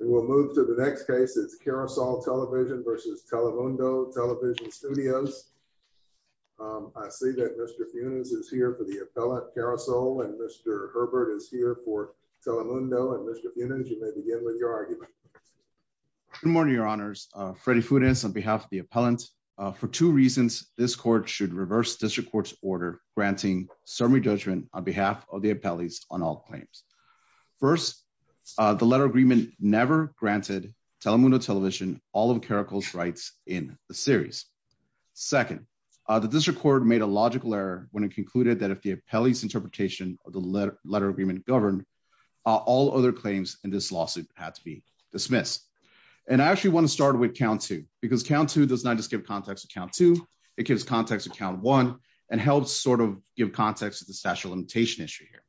We will move to the next case. It's Carousel Television v. Telemundo Television Studios. I see that Mr. Funes is here for the appellant, Carousel, and Mr. Herbert is here for Telemundo. And Mr. Funes, you may begin with your argument. Good morning, your honors. Freddy Funes on behalf of the appellant. For two reasons, this court should reverse district court's order granting summary judgment on behalf of the appellees on all claims. First, the letter agreement never granted Telemundo Television all of Caracol's rights in the series. Second, the district court made a logical error when it concluded that if the appellee's interpretation of the letter agreement governed, all other claims in this lawsuit had to be dismissed. And I actually want to start with count two, because count two does not just give context to count two, it gives context to the statute of limitation issue here.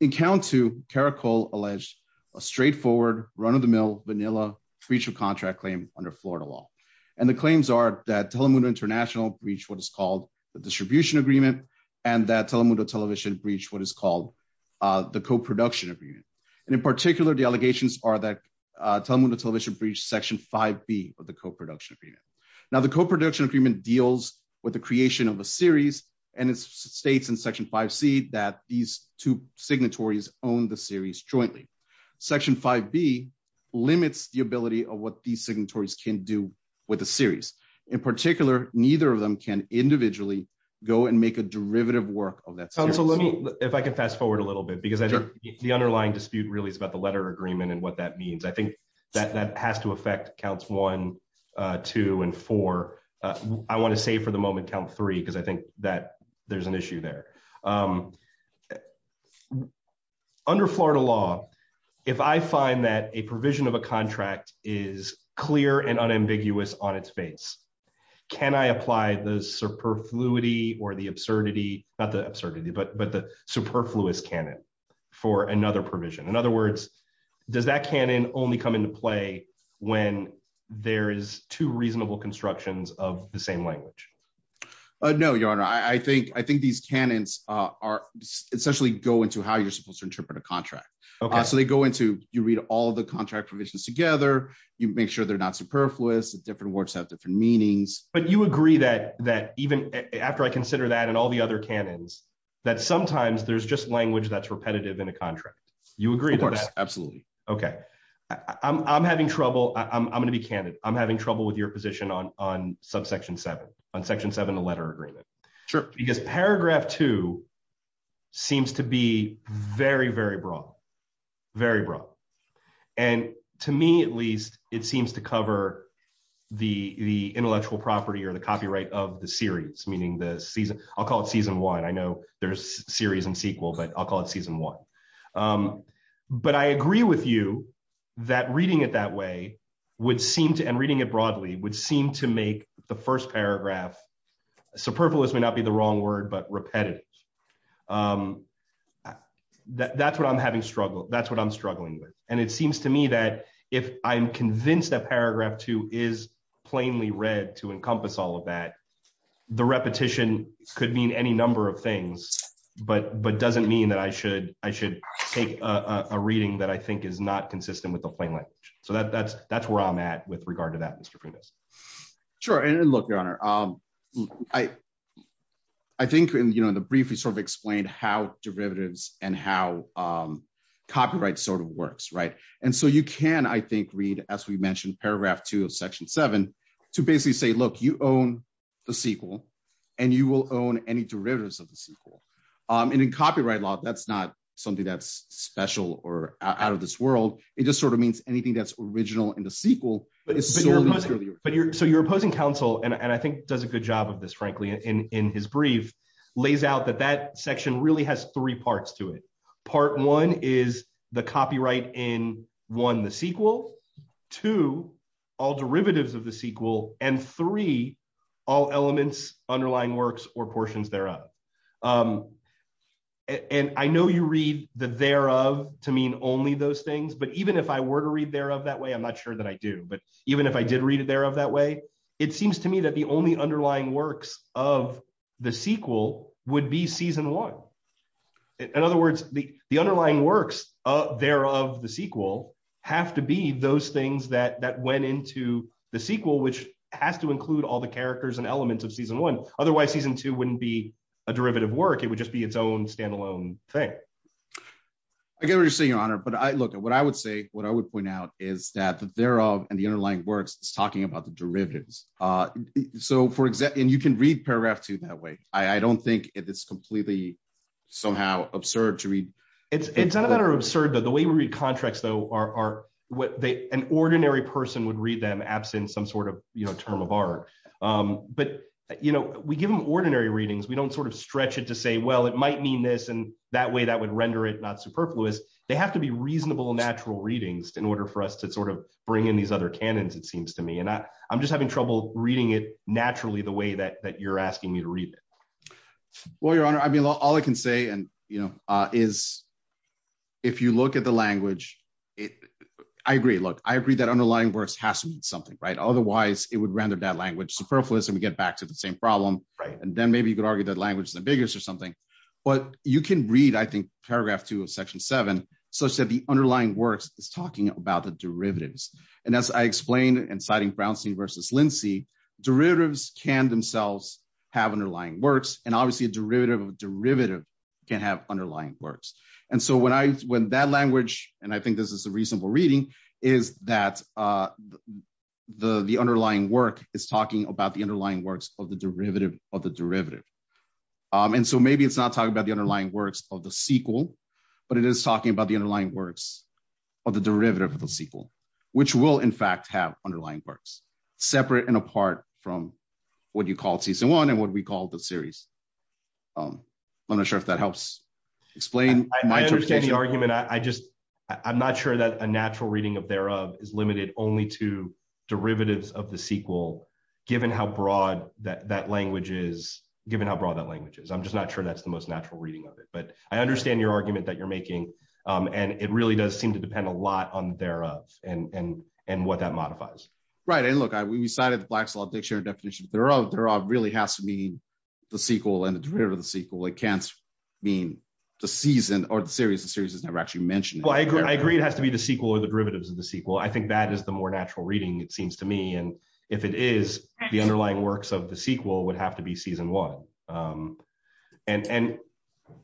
In count two, Caracol alleged a straightforward, run-of-the-mill, vanilla breach of contract claim under Florida law. And the claims are that Telemundo International breached what is called the distribution agreement and that Telemundo Television breached what is called the co-production agreement. And in particular, the allegations are that Telemundo Television breached section 5B of the co-production agreement. Now, the co-production deals with the creation of a series, and it states in section 5C that these two signatories own the series jointly. Section 5B limits the ability of what these signatories can do with the series. In particular, neither of them can individually go and make a derivative work of that series. If I can fast forward a little bit, because the underlying dispute really is about the letter agreement and what that means. I think that that has to affect counts one, two, and four. I want to save for the moment count three, because I think that there's an issue there. Under Florida law, if I find that a provision of a contract is clear and unambiguous on its face, can I apply the superfluity or the absurdity, not the absurdity, but the superfluous for another provision? In other words, does that canon only come into play when there is two reasonable constructions of the same language? No, your honor. I think these canons essentially go into how you're supposed to interpret a contract. You read all the contract provisions together. You make sure they're not superfluous, that different words have different meanings. But you agree that even after I consider that and all the other canons, that sometimes there's just language that's repetitive in a contract. You agree with that? Absolutely. Okay. I'm going to be candid. I'm having trouble with your position on subsection seven, on section seven, the letter agreement. Because paragraph two seems to be very, very broad, very broad. And to me, at least, it seems to cover the intellectual property or the copyright of the series, meaning the season, I'll call it season one. I know there's series and sequel, but I'll call it season one. But I agree with you that reading it that way would seem to, and reading it broadly, would seem to make the first paragraph, superfluous may not be the wrong word, but repetitive. That's what I'm having struggle, that's what I'm struggling with. And it seems to me that if I'm convinced that paragraph two is plainly read to encompass all that, the repetition could mean any number of things, but doesn't mean that I should take a reading that I think is not consistent with the plain language. So that's where I'm at with regard to that, Mr. Primus. Sure. And look, Your Honor, I think in the brief, you sort of explained how derivatives and how copyright sort of works, right? And so you can, I think, read, as we mentioned, paragraph two of the sequel, and you will own any derivatives of the sequel. And in copyright law, that's not something that's special or out of this world. It just sort of means anything that's original in the sequel. So your opposing counsel, and I think does a good job of this, frankly, in his brief, lays out that that section really has three parts to it. Part one is the copyright in, one, the all elements underlying works or portions thereof. And I know you read the thereof to mean only those things. But even if I were to read thereof that way, I'm not sure that I do. But even if I did read it thereof that way, it seems to me that the only underlying works of the sequel would be season one. In other words, the underlying works thereof the sequel have to be those things that went into the sequel, which has to include all the characters and elements of season one. Otherwise, season two wouldn't be a derivative work, it would just be its own standalone thing. I get what you're saying, your honor. But I look at what I would say, what I would point out is that the thereof and the underlying works is talking about the derivatives. So for example, and you can read paragraph two that way. I don't think it's completely somehow absurd to read. It's absurd that the way we read contracts, though, are what they an ordinary person would read them absent some sort of, you know, term of art. But, you know, we give them ordinary readings, we don't sort of stretch it to say, well, it might mean this. And that way, that would render it not superfluous. They have to be reasonable, natural readings in order for us to sort of bring in these other canons, it seems to me, and I'm just having trouble reading it naturally the way that you're asking me to read it. Well, your honor, I mean, all I can say, and, you know, is, if you look at the language, I agree, look, I agree that underlying works has to mean something, right? Otherwise, it would render that language superfluous, and we get back to the same problem, right? And then maybe you could argue that language is the biggest or something. But you can read, I think, paragraph two of section seven, so said the underlying works is talking about the derivatives. And as I said, obviously, a derivative of a derivative can have underlying works. And so when that language, and I think this is a reasonable reading, is that the underlying work is talking about the underlying works of the derivative of the derivative. And so maybe it's not talking about the underlying works of the sequel, but it is talking about the underlying works of the derivative of the sequel, which will, in fact, have underlying works, separate and apart from what you call season one and what we call the series. I'm not sure if that helps explain. I understand the argument. I just, I'm not sure that a natural reading of thereof is limited only to derivatives of the sequel, given how broad that language is, given how broad that language is. I'm just not sure that's the most natural reading of it. But I understand your argument that you're making. And it really does seem to depend a lot on thereof and what that modifies. Right. And look, we cited the Black Slot Dictionary definition. Thereof really has to mean the sequel and the derivative of the sequel. It can't mean the season or the series. The series is never actually mentioned. Well, I agree. It has to be the sequel or the derivatives of the sequel. I think that is the more natural reading, it seems to me. And if it is, the underlying works of the sequel would have to be season one. And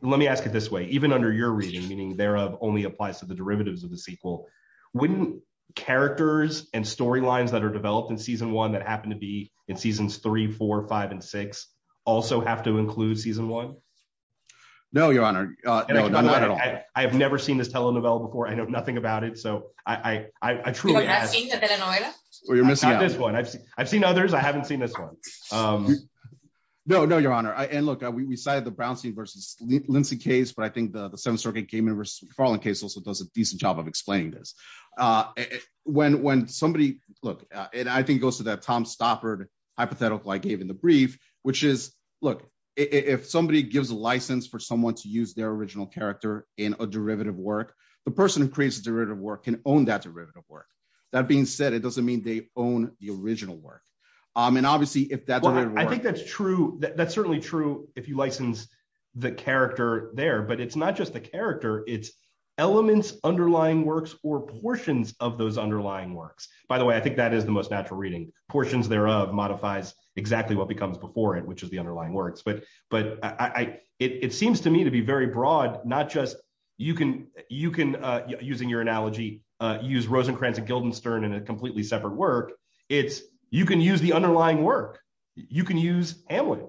let me ask it this way. Even under your reading, meaning thereof only applies to the derivatives of the sequel, wouldn't characters and storylines that are developed in season one that happen to be in seasons three, four, five, and six also have to include season one? No, Your Honor. Not at all. I have never seen this telenovela before. I know nothing about it. So I truly ask. Have you seen the telenovela? I've seen others. I haven't seen this one. No, no, Your Honor. And look, we cited the Brownstein versus Lindsay case, but I think the Seventh Circuit came in versus Farland case also does a decent job of explaining this. When somebody, look, and I think it goes to that Tom Stoppard hypothetical I gave in the brief, which is, look, if somebody gives a license for someone to use their original character in a derivative work, the person who creates the derivative work can own that derivative work. That being said, it doesn't mean they own the original work. And obviously, if that's... I think that's true. That's certainly true if you license the character there, but it's not just the By the way, I think that is the most natural reading. Portions thereof modifies exactly what becomes before it, which is the underlying works. But it seems to me to be very broad, not just you can, using your analogy, use Rosencrantz and Guildenstern in a completely separate work. It's you can use the underlying work. You can use Hamlet.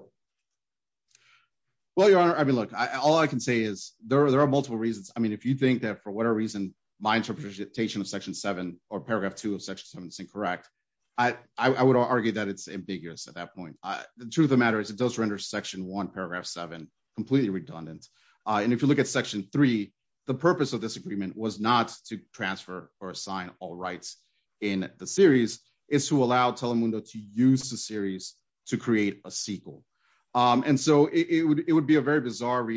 Well, Your Honor, I mean, look, all I can say is there are multiple reasons. I mean, if you think for whatever reason, my interpretation of Section 7 or Paragraph 2 of Section 7 is incorrect, I would argue that it's ambiguous at that point. The truth of the matter is it does render Section 1, Paragraph 7 completely redundant. And if you look at Section 3, the purpose of this agreement was not to transfer or assign all rights in the series, it's to allow Telemundo to use the series to create a sequel. And so it would be a very plain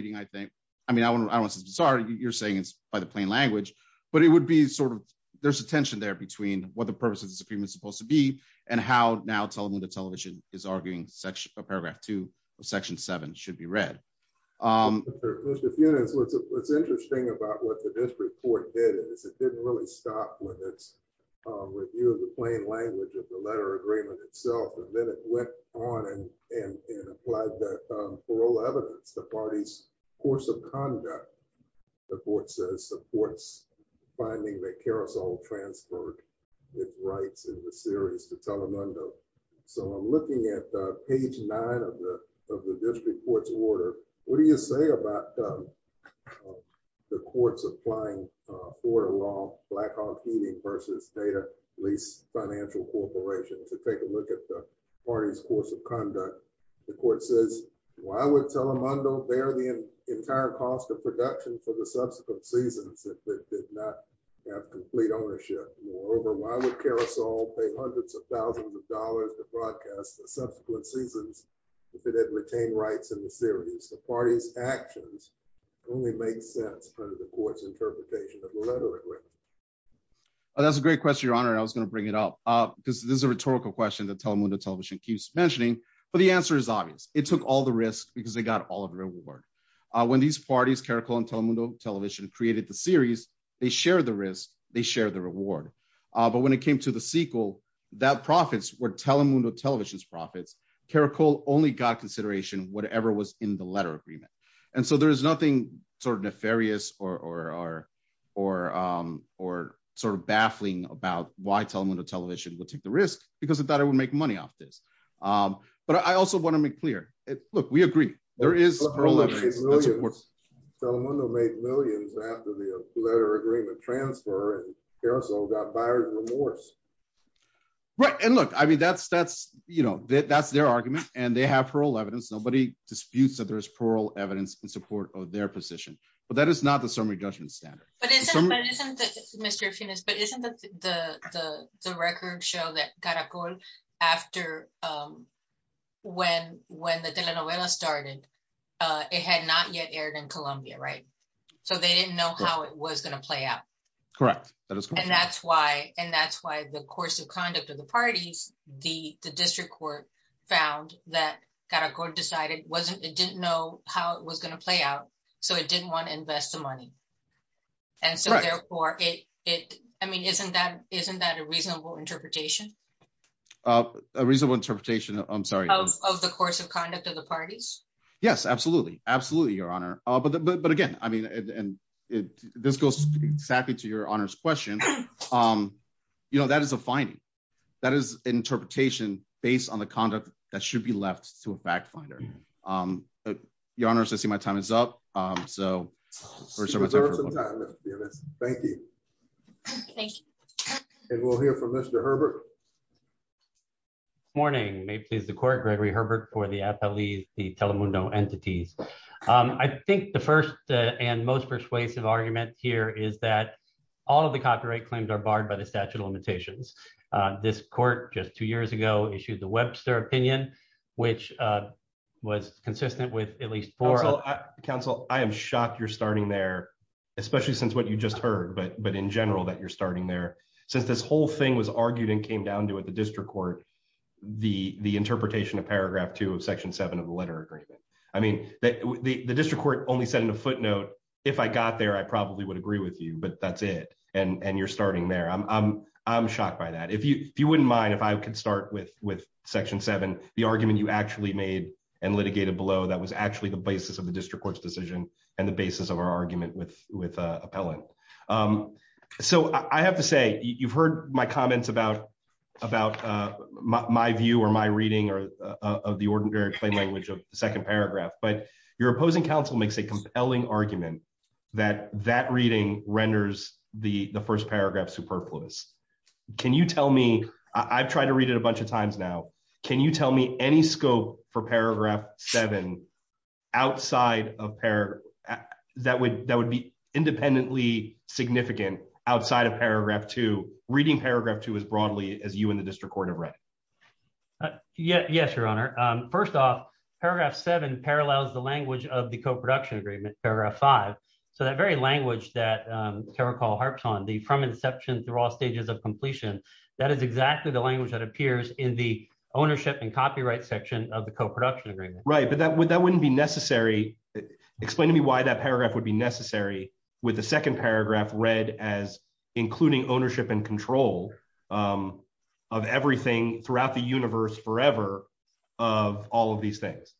language. But it would be sort of, there's a tension there between what the purpose of this agreement is supposed to be and how now Telemundo Television is arguing Paragraph 2 of Section 7 should be read. Mr. Funitz, what's interesting about what the district court did is it didn't really stop with its review of the plain language of the letter agreement itself. And then it went on and applied that parole evidence, the party's course of conduct. The court says supports finding that Carousel transferred its rights in the series to Telemundo. So I'm looking at page nine of the district court's order. What do you say about the court's applying order law, Blackhawk Heating versus Data Lease Financial Corporation, to take a look at the party's course of conduct? The court says, why would Telemundo bear the entire cost of production for the subsequent seasons if it did not have complete ownership? Moreover, why would Carousel pay hundreds of thousands of dollars to broadcast the subsequent seasons if it had retained rights in the series? The party's actions only make sense under the court's interpretation of the letter agreement. That's a great question, your honor. I was going to bring it up because this is a rhetorical question that Telemundo Television keeps mentioning. But the answer is obvious. It took all the risk because they got all of the reward. When these parties, Caracol and Telemundo Television, created the series, they shared the risk. They shared the reward. But when it came to the sequel, that profits were Telemundo Television's profits. Caracol only got consideration whatever was in the letter agreement. And so there is nothing sort of nefarious or sort of baffling about why Telemundo Television would take the risk because it thought it would make money off this. But I also want to make clear, look, we agree. There is- Telemundo made millions after the letter agreement transfer and Caracol got buyer's remorse. Right. And look, I mean, that's their argument and they have plural evidence. Nobody disputes that there's plural evidence in support of their position. But that is not the summary judgment standard. But isn't the record show that Caracol, after when the telenovela started, it had not yet aired in Columbia, right? So they didn't know how it was going to play out. Correct. And that's why the course of conduct of the parties, the district court found that Caracol decided it didn't know how it was going to play out. So it didn't want to invest the money. And so therefore, I mean, isn't that a reasonable interpretation? A reasonable interpretation, I'm sorry. Of the course of conduct of the parties? Yes, absolutely. Absolutely, Your Honor. But again, I mean, and this goes exactly to Your Honor's question. You know, that is a finding. That is interpretation based on the conduct that should be left to a fact finder. Your Honor, I see my time is up. Thank you. Thank you. And we'll hear from Mr. Herbert. Good morning. May it please the court, Gregory Herbert for the appellees, the Telemundo entities. I think the first and most persuasive argument here is that all of the copyright claims are opinion, which was consistent with at least four. Counsel, I am shocked you're starting there, especially since what you just heard. But in general, that you're starting there, since this whole thing was argued and came down to it, the district court, the interpretation of paragraph two of section seven of the letter agreement. I mean, the district court only said in a footnote, if I got there, I probably would agree with you. But that's it. And you're starting there. I'm shocked by that. If you wouldn't mind if I could start with with section seven, the argument you actually made and litigated below, that was actually the basis of the district court's decision and the basis of our argument with with appellant. So I have to say, you've heard my comments about about my view or my reading of the ordinary plain language of the second paragraph. But your opposing counsel makes a compelling argument that that reading renders the first paragraph superfluous. Can you tell me, I've tried to read it a bunch of times now. Can you tell me any scope for paragraph seven outside of pair that would that would be independently significant outside of paragraph two, reading paragraph two as broadly as you in the district court of red? Yes, Your Honor. First off, paragraph seven parallels the language of the co-production agreement paragraph five. So that very language that Carol Carl harps on the from inception through all stages of completion. That is exactly the language that appears in the ownership and copyright section of the co-production agreement. Right. But that would that wouldn't be necessary. Explain to me why that paragraph would be necessary with the second paragraph read as including ownership and control of everything throughout the universe forever of all of these things.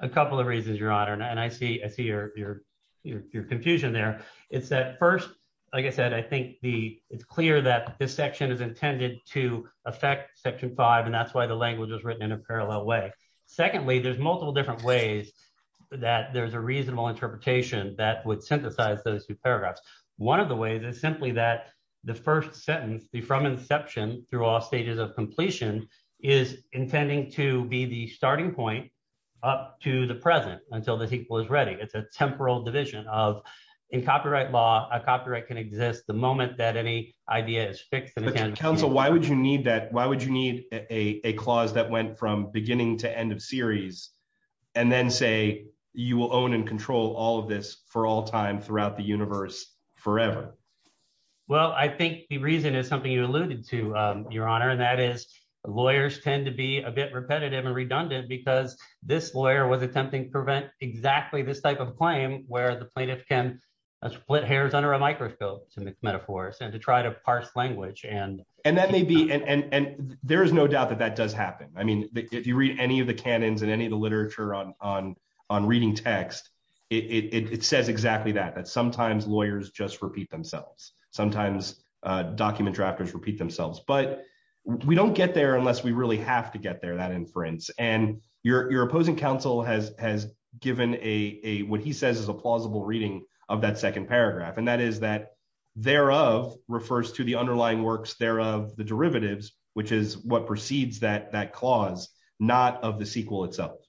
A couple of reasons, Your Honor. And I see I see your your your confusion there. It's that first, like I said, I think the it's clear that this section is intended to affect section five, and that's why the language is written in a parallel way. Secondly, there's multiple different ways that there's a reasonable interpretation that would synthesize those two paragraphs. One of the ways is simply that the first sentence from inception through all stages of completion is intending to be the starting point up to the present until the people is ready. It's a temporal division of in copyright law. A copyright can exist the moment that any idea is fixed. Counsel, why would you need that? Why would you need a clause that went from beginning to end of series and then say you will own and control all of this for all time throughout the universe forever? Well, I think the reason is something you alluded to, Your Honor, and that is lawyers tend to be a bit repetitive and redundant because this lawyer was attempting to prevent exactly this type of claim where the plaintiff can split hairs under a microscope to make metaphors and to try to parse language. And and that may be. And there is no doubt that that does happen. I mean, if you read any of the canons in any of the literature on on on reading text, it says exactly that, that sometimes lawyers just repeat themselves, sometimes document drafters repeat themselves. But we don't get there unless we really have to get there, that inference. And your opposing counsel has has given a what he says is a plausible reading of that second paragraph. And that is that thereof refers to the underlying works thereof, the derivatives, which is what precedes that that clause, not of the sequel itself.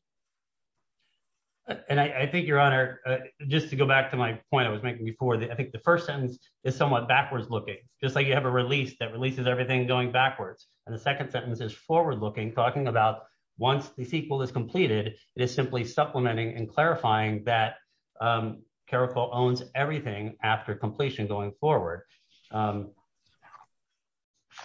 And I think, Your Honor, just to go back to my point I was making before, I think the first sentence is somewhat backwards looking, just like you have a release that releases everything going backwards. And the second sentence is forward looking, talking about once the sequel is completed, it is simply supplementing and clarifying that Caracol owns everything after completion going forward. And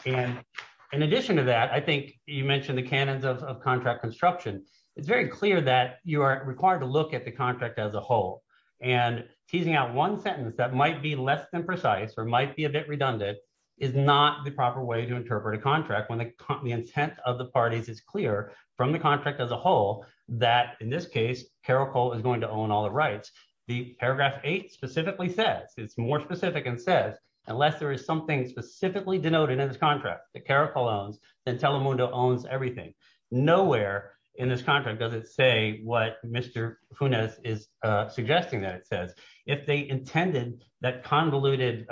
in addition to that, I think you mentioned the canons of contract construction. It's very clear that you are required to look at the contract as a whole and teasing out one sentence that might be less than precise or might be a bit redundant is not the proper way to interpret a contract when the intent of the parties is clear from the contract as a whole, that in this case, Caracol is going to own all the rights. The paragraph eight specifically says, it's more specific and says, unless there is something specifically denoted in this contract that Caracol owns, then Telemundo owns everything. Nowhere in this contract does it say what Mr. Funes is suggesting that it says. If they intended that convoluted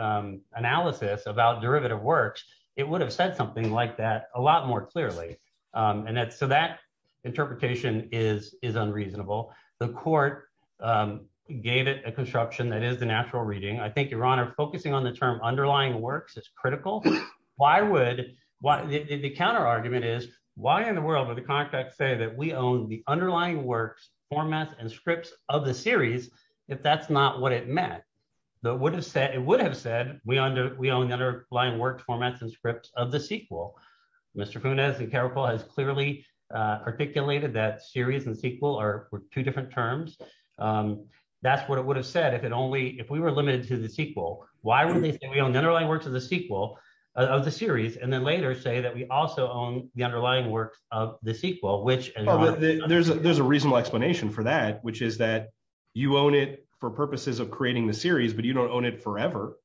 analysis about derivative works, it would have said something like that a lot more clearly. And so that interpretation is unreasonable. The court gave it a construction that is the natural reading. I think, Your Honor, focusing on the term underlying works is critical. Why would, the counter argument is why in the world would the contract say that we own the would have said, it would have said we own the underlying works, formats, and scripts of the sequel. Mr. Funes and Caracol has clearly articulated that series and sequel are two different terms. That's what it would have said if it only, if we were limited to the sequel, why would they say we own the underlying works of the sequel of the series and then later say that we also own the underlying works of the sequel, which- There's a reasonable explanation for that, which is that you own it for purposes of creating the series, but you don't own it forever.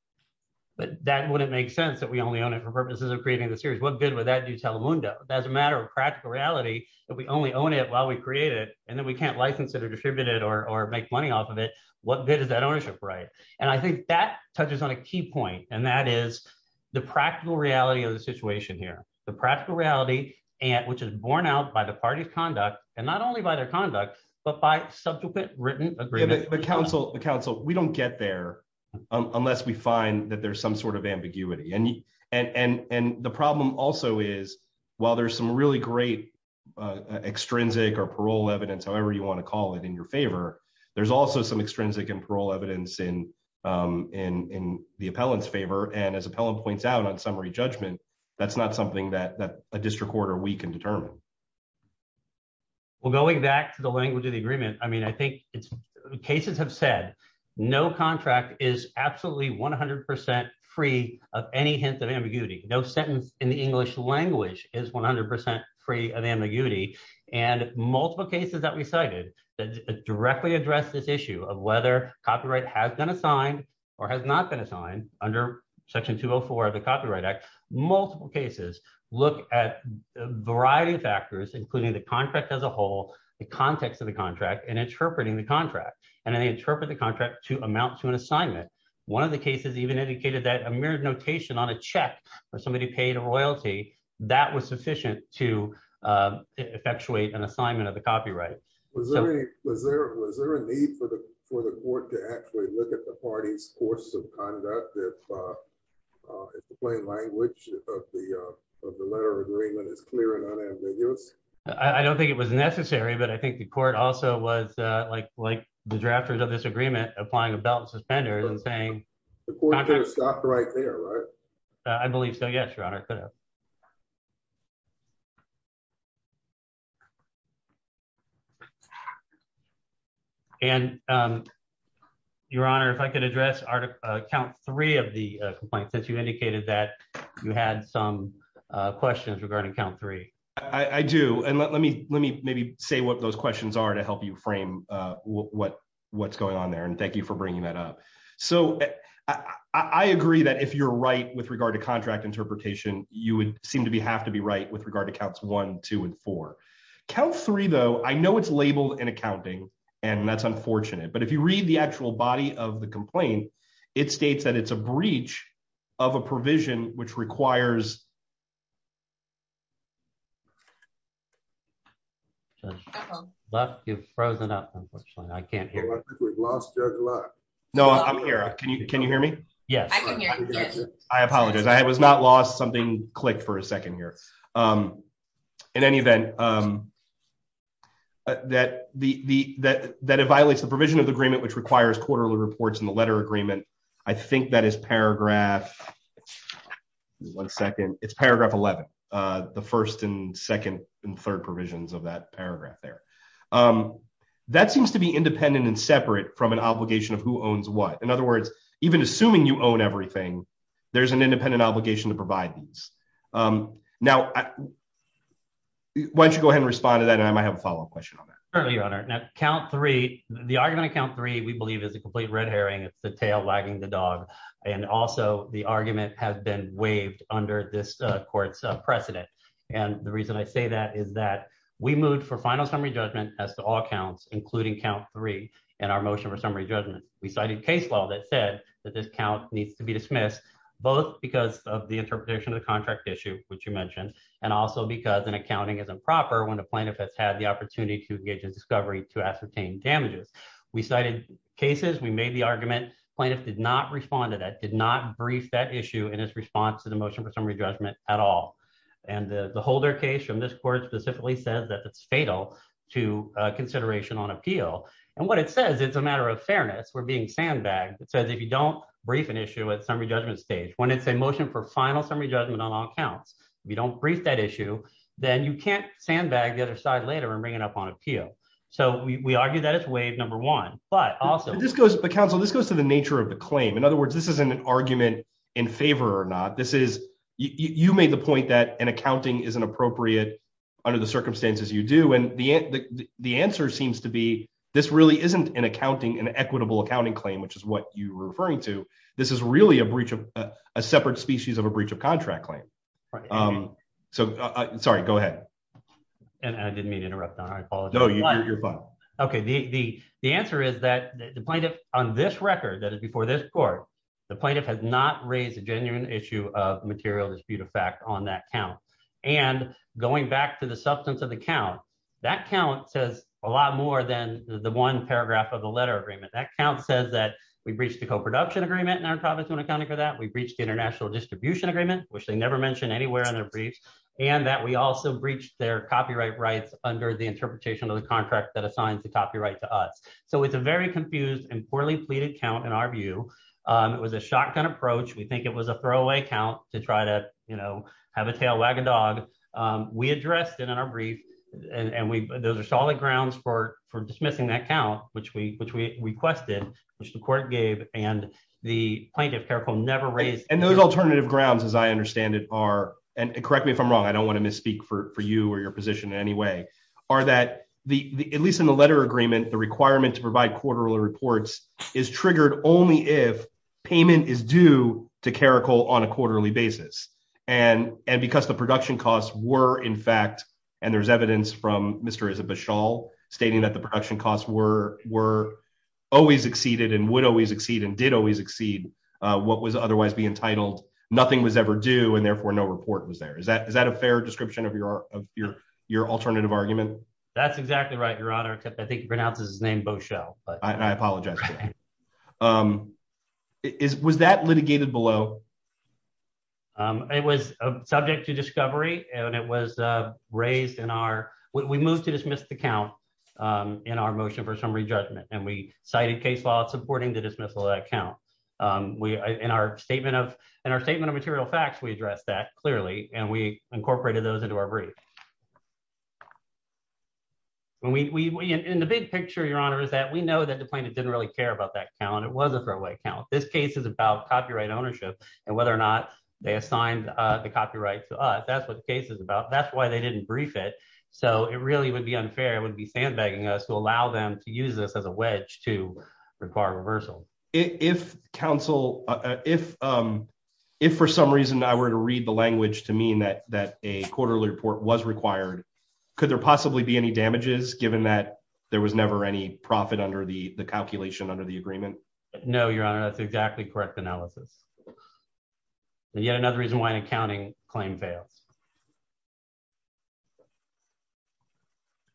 But that wouldn't make sense that we only own it for purposes of creating the series. What good would that do Telemundo? That's a matter of practical reality that we only own it while we create it and then we can't license it or distribute it or make money off of it. What good is that ownership right? And I think that touches on a key point, and that is the practical reality of the situation here. The practical reality, which is borne out by the party's conduct and not only by their conduct, but by subsequent written agreement. The council, we don't get there unless we find that there's some sort of ambiguity. And the problem also is, while there's some really great extrinsic or parole evidence, however you want to call it in your favor, there's also some extrinsic and parole evidence in the appellant's favor. And as appellant points out on summary judgment, that's not something that a district court or we can determine. Well, going back to the language of the agreement, I mean, I think cases have said no contract is absolutely 100% free of any hint of ambiguity. No sentence in the English language is 100% free of ambiguity. And multiple cases that we cited that directly address this issue of whether copyright has been assigned or has not been assigned under Section 204 of the Copyright Multiple cases look at a variety of factors, including the contract as a whole, the context of the contract, and interpreting the contract. And then they interpret the contract to amount to an assignment. One of the cases even indicated that a mirrored notation on a check for somebody who paid a royalty, that was sufficient to effectuate an assignment of the copyright. Was there a need for the court to actually look at the party's course of conduct if the plain language of the letter of agreement is clear and unambiguous? I don't think it was necessary, but I think the court also was like the drafters of this agreement applying a belt and suspenders and saying... The court could have stopped right there, right? I believe so, yes, Your Honor, it could have. And Your Honor, if I could address count three of the complaints that you indicated that you had some questions regarding count three. I do. And let me maybe say what those questions are to help you frame what's going on there. And thank you for bringing that up. So I agree that you're right with regard to contract interpretation, you would seem to have to be right with regard to counts one, two, and four. Count three, though, I know it's labeled in accounting, and that's unfortunate. But if you read the actual body of the complaint, it states that it's a breach of a provision which requires... Left, you've frozen up, unfortunately. I can't hear. Well, I think we've lost Judge Luck. No, I'm here. Can you hear me? Yes. I can hear you, yes. I apologize. I was not lost. Something clicked for a second here. In any event, that it violates the provision of the agreement which requires quarterly reports in the letter agreement, I think that is paragraph... One second. It's paragraph 11, the first and second and third provisions of that paragraph there. That seems to be independent and separate from an obligation of who owns what. In other words, even assuming you own everything, there's an independent obligation to provide these. Now, why don't you go ahead and respond to that, and I might have a follow-up question on that. Certainly, Your Honor. Now, count three, the argument of count three, we believe, is a complete red herring. It's the tail wagging the dog. And also, the argument has been waived under this court's precedent. And the reason I say that is that we moved for final summary judgment as to all counts, including count three in our motion for summary judgment. We cited case law that said that this count needs to be dismissed, both because of the interpretation of the contract issue, which you mentioned, and also because an accounting is improper when the plaintiff has had the opportunity to engage in discovery to ascertain damages. We cited cases. We made the argument. The plaintiff did not respond to that, did not brief that issue in his response to the motion for summary judgment at all. And the Holder case from this court specifically says that it's consideration on appeal. And what it says, it's a matter of fairness. We're being sandbagged. It says if you don't brief an issue at summary judgment stage, when it's a motion for final summary judgment on all counts, if you don't brief that issue, then you can't sandbag the other side later and bring it up on appeal. So we argue that it's waived, number one. But also— But counsel, this goes to the nature of the claim. In other words, this isn't an argument in favor or not. You made the point that an accounting isn't appropriate under the circumstances you do. And the answer seems to be this really isn't an accounting, an equitable accounting claim, which is what you were referring to. This is really a separate species of a breach of contract claim. So, sorry, go ahead. And I didn't mean to interrupt, Don. I apologize. No, you're fine. Okay. The answer is that the plaintiff on this record, that is before this court, the plaintiff has not raised a genuine issue of material dispute of fact on that count. And going back to the substance of the count, that count says a lot more than the one paragraph of the letter agreement. That count says that we breached the co-production agreement in our province when accounting for that. We breached the international distribution agreement, which they never mentioned anywhere on their briefs. And that we also breached their copyright rights under the interpretation of the contract that assigns the copyright to us. So it's a very confused and poorly pleaded count in our view. It was a shotgun approach. We think it was a throwaway count to try to have a tail wag a dog. We addressed it in our brief, and those are solid grounds for dismissing that count, which we requested, which the court gave, and the plaintiff, Caracol, never raised. And those alternative grounds, as I understand it, are, and correct me if I'm wrong, I don't want to misspeak for you or your position in any way, are that, at least in the letter agreement, the requirement to provide quarterly reports is triggered only if payment is due to Caracol on a quarterly basis. And because the production costs were, in fact, and there's evidence from Mr. Issa Bashal stating that the production costs were always exceeded and would always exceed and did always exceed what was otherwise being titled, nothing was ever due and therefore no report was there. Is that a fair description of your alternative argument? That's exactly right, Your Honor. I think he pronounces his name Bashal. I apologize. Was that litigated below? It was subject to discovery, and it was raised in our, we moved to dismiss the count in our motion for summary judgment, and we cited case law supporting the dismissal of that count. In our statement of material facts, we addressed that we know that the plaintiff didn't really care about that count. It was a fair way to count. This case is about copyright ownership and whether or not they assigned the copyright to us. That's what the case is about. That's why they didn't brief it. So it really would be unfair. It would be sandbagging us to allow them to use this as a wedge to require reversal. If counsel, if for some reason I were to read the language to mean that a quarterly report was required, could there be a profit under the calculation, under the agreement? No, Your Honor. That's exactly correct analysis. And yet another reason why an accounting claim fails.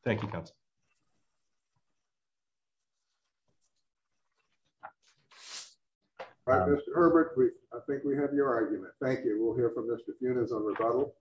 Thank you, counsel. All right, Mr. Herbert, I think we have your argument. Thank you. We'll hear from Mr. Funes on rebuttal.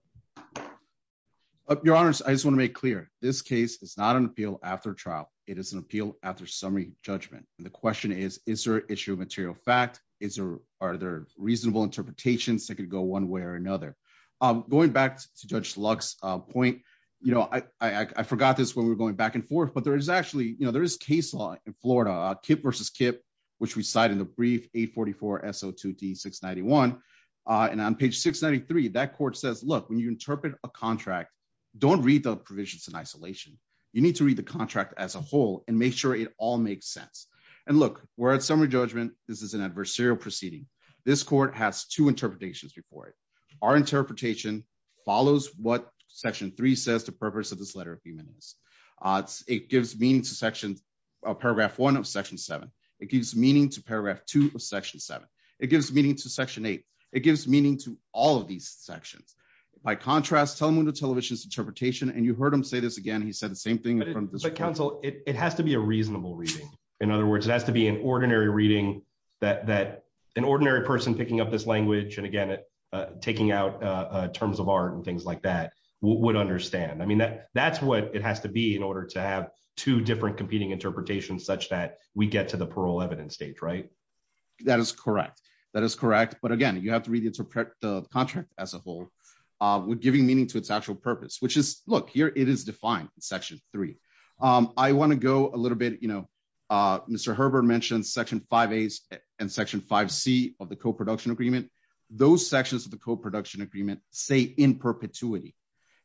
Your Honor, I just want to make clear. This case is not an appeal after trial. It is an appeal after summary judgment. And the question is, is there issue of material fact? Is there, are there reasonable interpretations that could go one way or another? Going back to Judge Lux's point, you know, I forgot this when we were going back and forth, but there is actually, you know, there is case law in Florida, KIPP versus KIPP, which we cite in the brief 844-SO2D-691. And on page 693, that court says, look, when you interpret a contract, don't read the provisions in isolation. You need to read the contract as a whole and make sure it all makes sense. And look, we're at summary judgment. This is an adversarial proceeding. This court has two interpretations before it. Our interpretation follows what section three says the purpose of this letter of human rights. It gives meaning to paragraph one of section seven. It gives meaning to paragraph two of section seven. It gives meaning to section eight. It gives meaning to all of these sections. By contrast, Telemundo Television's interpretation, and you heard him say this again, he said the same thing. But counsel, it has to be a reasonable reading. In other words, it has to be an ordinary reading that an ordinary person picking up this language, and again, taking out terms of art and things like that, would understand. I mean, that's what it has to be in order to have two different competing interpretations such that we get to the parole evidence stage, right? That is correct. That is correct. But again, you have to read the contract as a whole. We're giving meaning to its actual purpose, which is, look, here it is defined in section three. I want to go a little bit, you know, Mr. Herbert mentioned section five A's and section five C of the co-production agreement. Those sections of the co-production agreement say in perpetuity.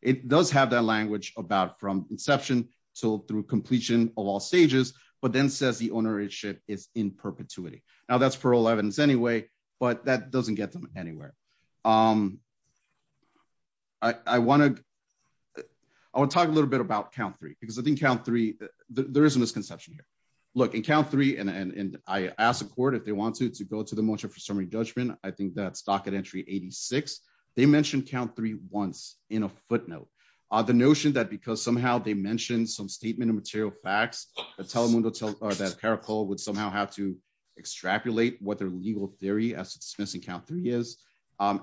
It does have that language about from inception to through completion of all stages, but then says the ownership is in perpetuity. Now that's parole evidence anyway, but that doesn't get them anywhere. I want to, I want to talk a little bit about count three, because I think count three, there is a misconception here. Look, in count three, and I asked the court if they want to, to go to the motion for summary judgment. I think that's docket entry 86. They mentioned count three once in a footnote. The notion that because somehow they mentioned some statement of material facts, the Telemundo, that Caracol would somehow have to dismiss and count three years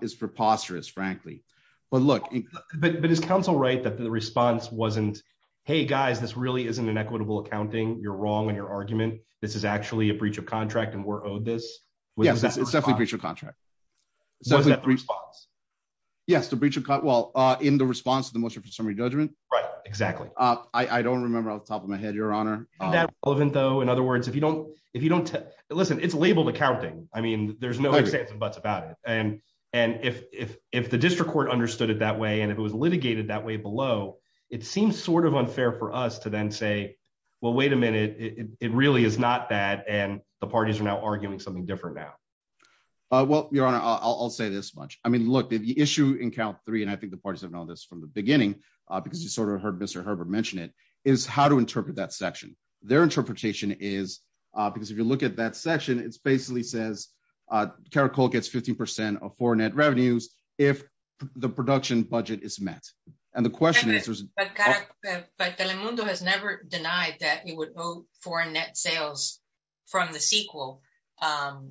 is preposterous, frankly. But look, but is counsel, right? That the response wasn't, Hey guys, this really isn't an equitable accounting. You're wrong. And your argument, this is actually a breach of contract and we're owed this. It's definitely breach of contract. Yes. The breach of cut well in the response to the motion for summary judgment. Right. Exactly. I don't remember off the top of my head, your honor. Isn't that relevant though. In other words, if you don't, if you don't listen, it's labeled accounting. I mean, there's no sense of butts about it. And, and if, if, if the district court understood it that way, and if it was litigated that way below, it seems sort of unfair for us to then say, well, wait a minute. It really is not that. And the parties are now arguing something different now. Well, your honor, I'll say this much. I mean, look, the issue in count three, and I think the parties have known this from the beginning because you sort of heard Mr. Herbert mentioned it is how to interpret that section. Their interpretation is because if you look at that section, it's basically says Caracol gets 15% of foreign net revenues. If the production budget is met. And the question is, But Telemundo has never denied that it would owe foreign net sales from the sequel. The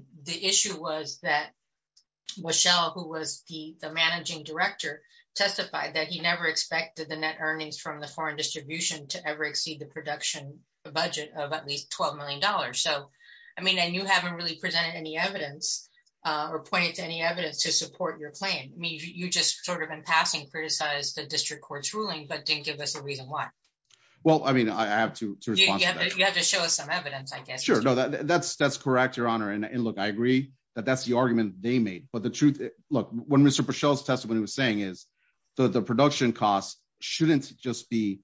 issue was that Washelle, who was the managing director testified that he never expected the net earnings from the foreign distribution to ever exceed the production budget of at least $12 million. So, I mean, I knew haven't really presented any evidence or pointed to any evidence to support your claim. I mean, you just sort of in passing criticize the district court's ruling, but didn't give us a reason why. Well, I mean, I have to, you have to show us some evidence, I guess. Sure. No, that's, that's correct, your honor. And look, I agree that that's the argument they made, but the truth, look, when Mr. Pichot's testimony was saying is that the production costs shouldn't just be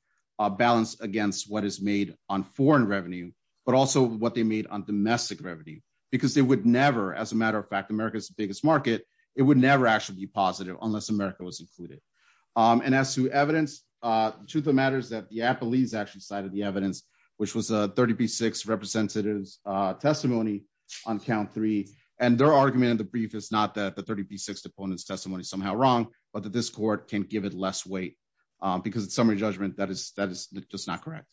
balanced against what is made on foreign revenue, but also what they made on domestic revenue, because they would never, as a matter of fact, America's biggest market, it would never actually be positive unless America was included. And as to evidence, truth of matters that the Apple is actually cited the evidence, which was a 30 P six representatives testimony on count three, and their argument in the brief is not that the 30 P six opponents testimony somehow wrong, but that this court can give it less weight. Because it's summary judgment that is that is just not correct.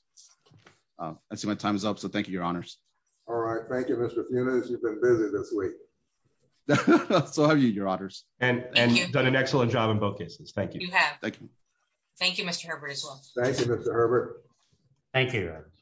I see my time is up. So thank you, your honors. All right. Thank you, Mr. Phoenix. You've been busy this week. So have you your honors and done an excellent job in both cases. Thank you. Thank you, Mr. Herbert as well. Thank you, Mr. Herbert. Thank you.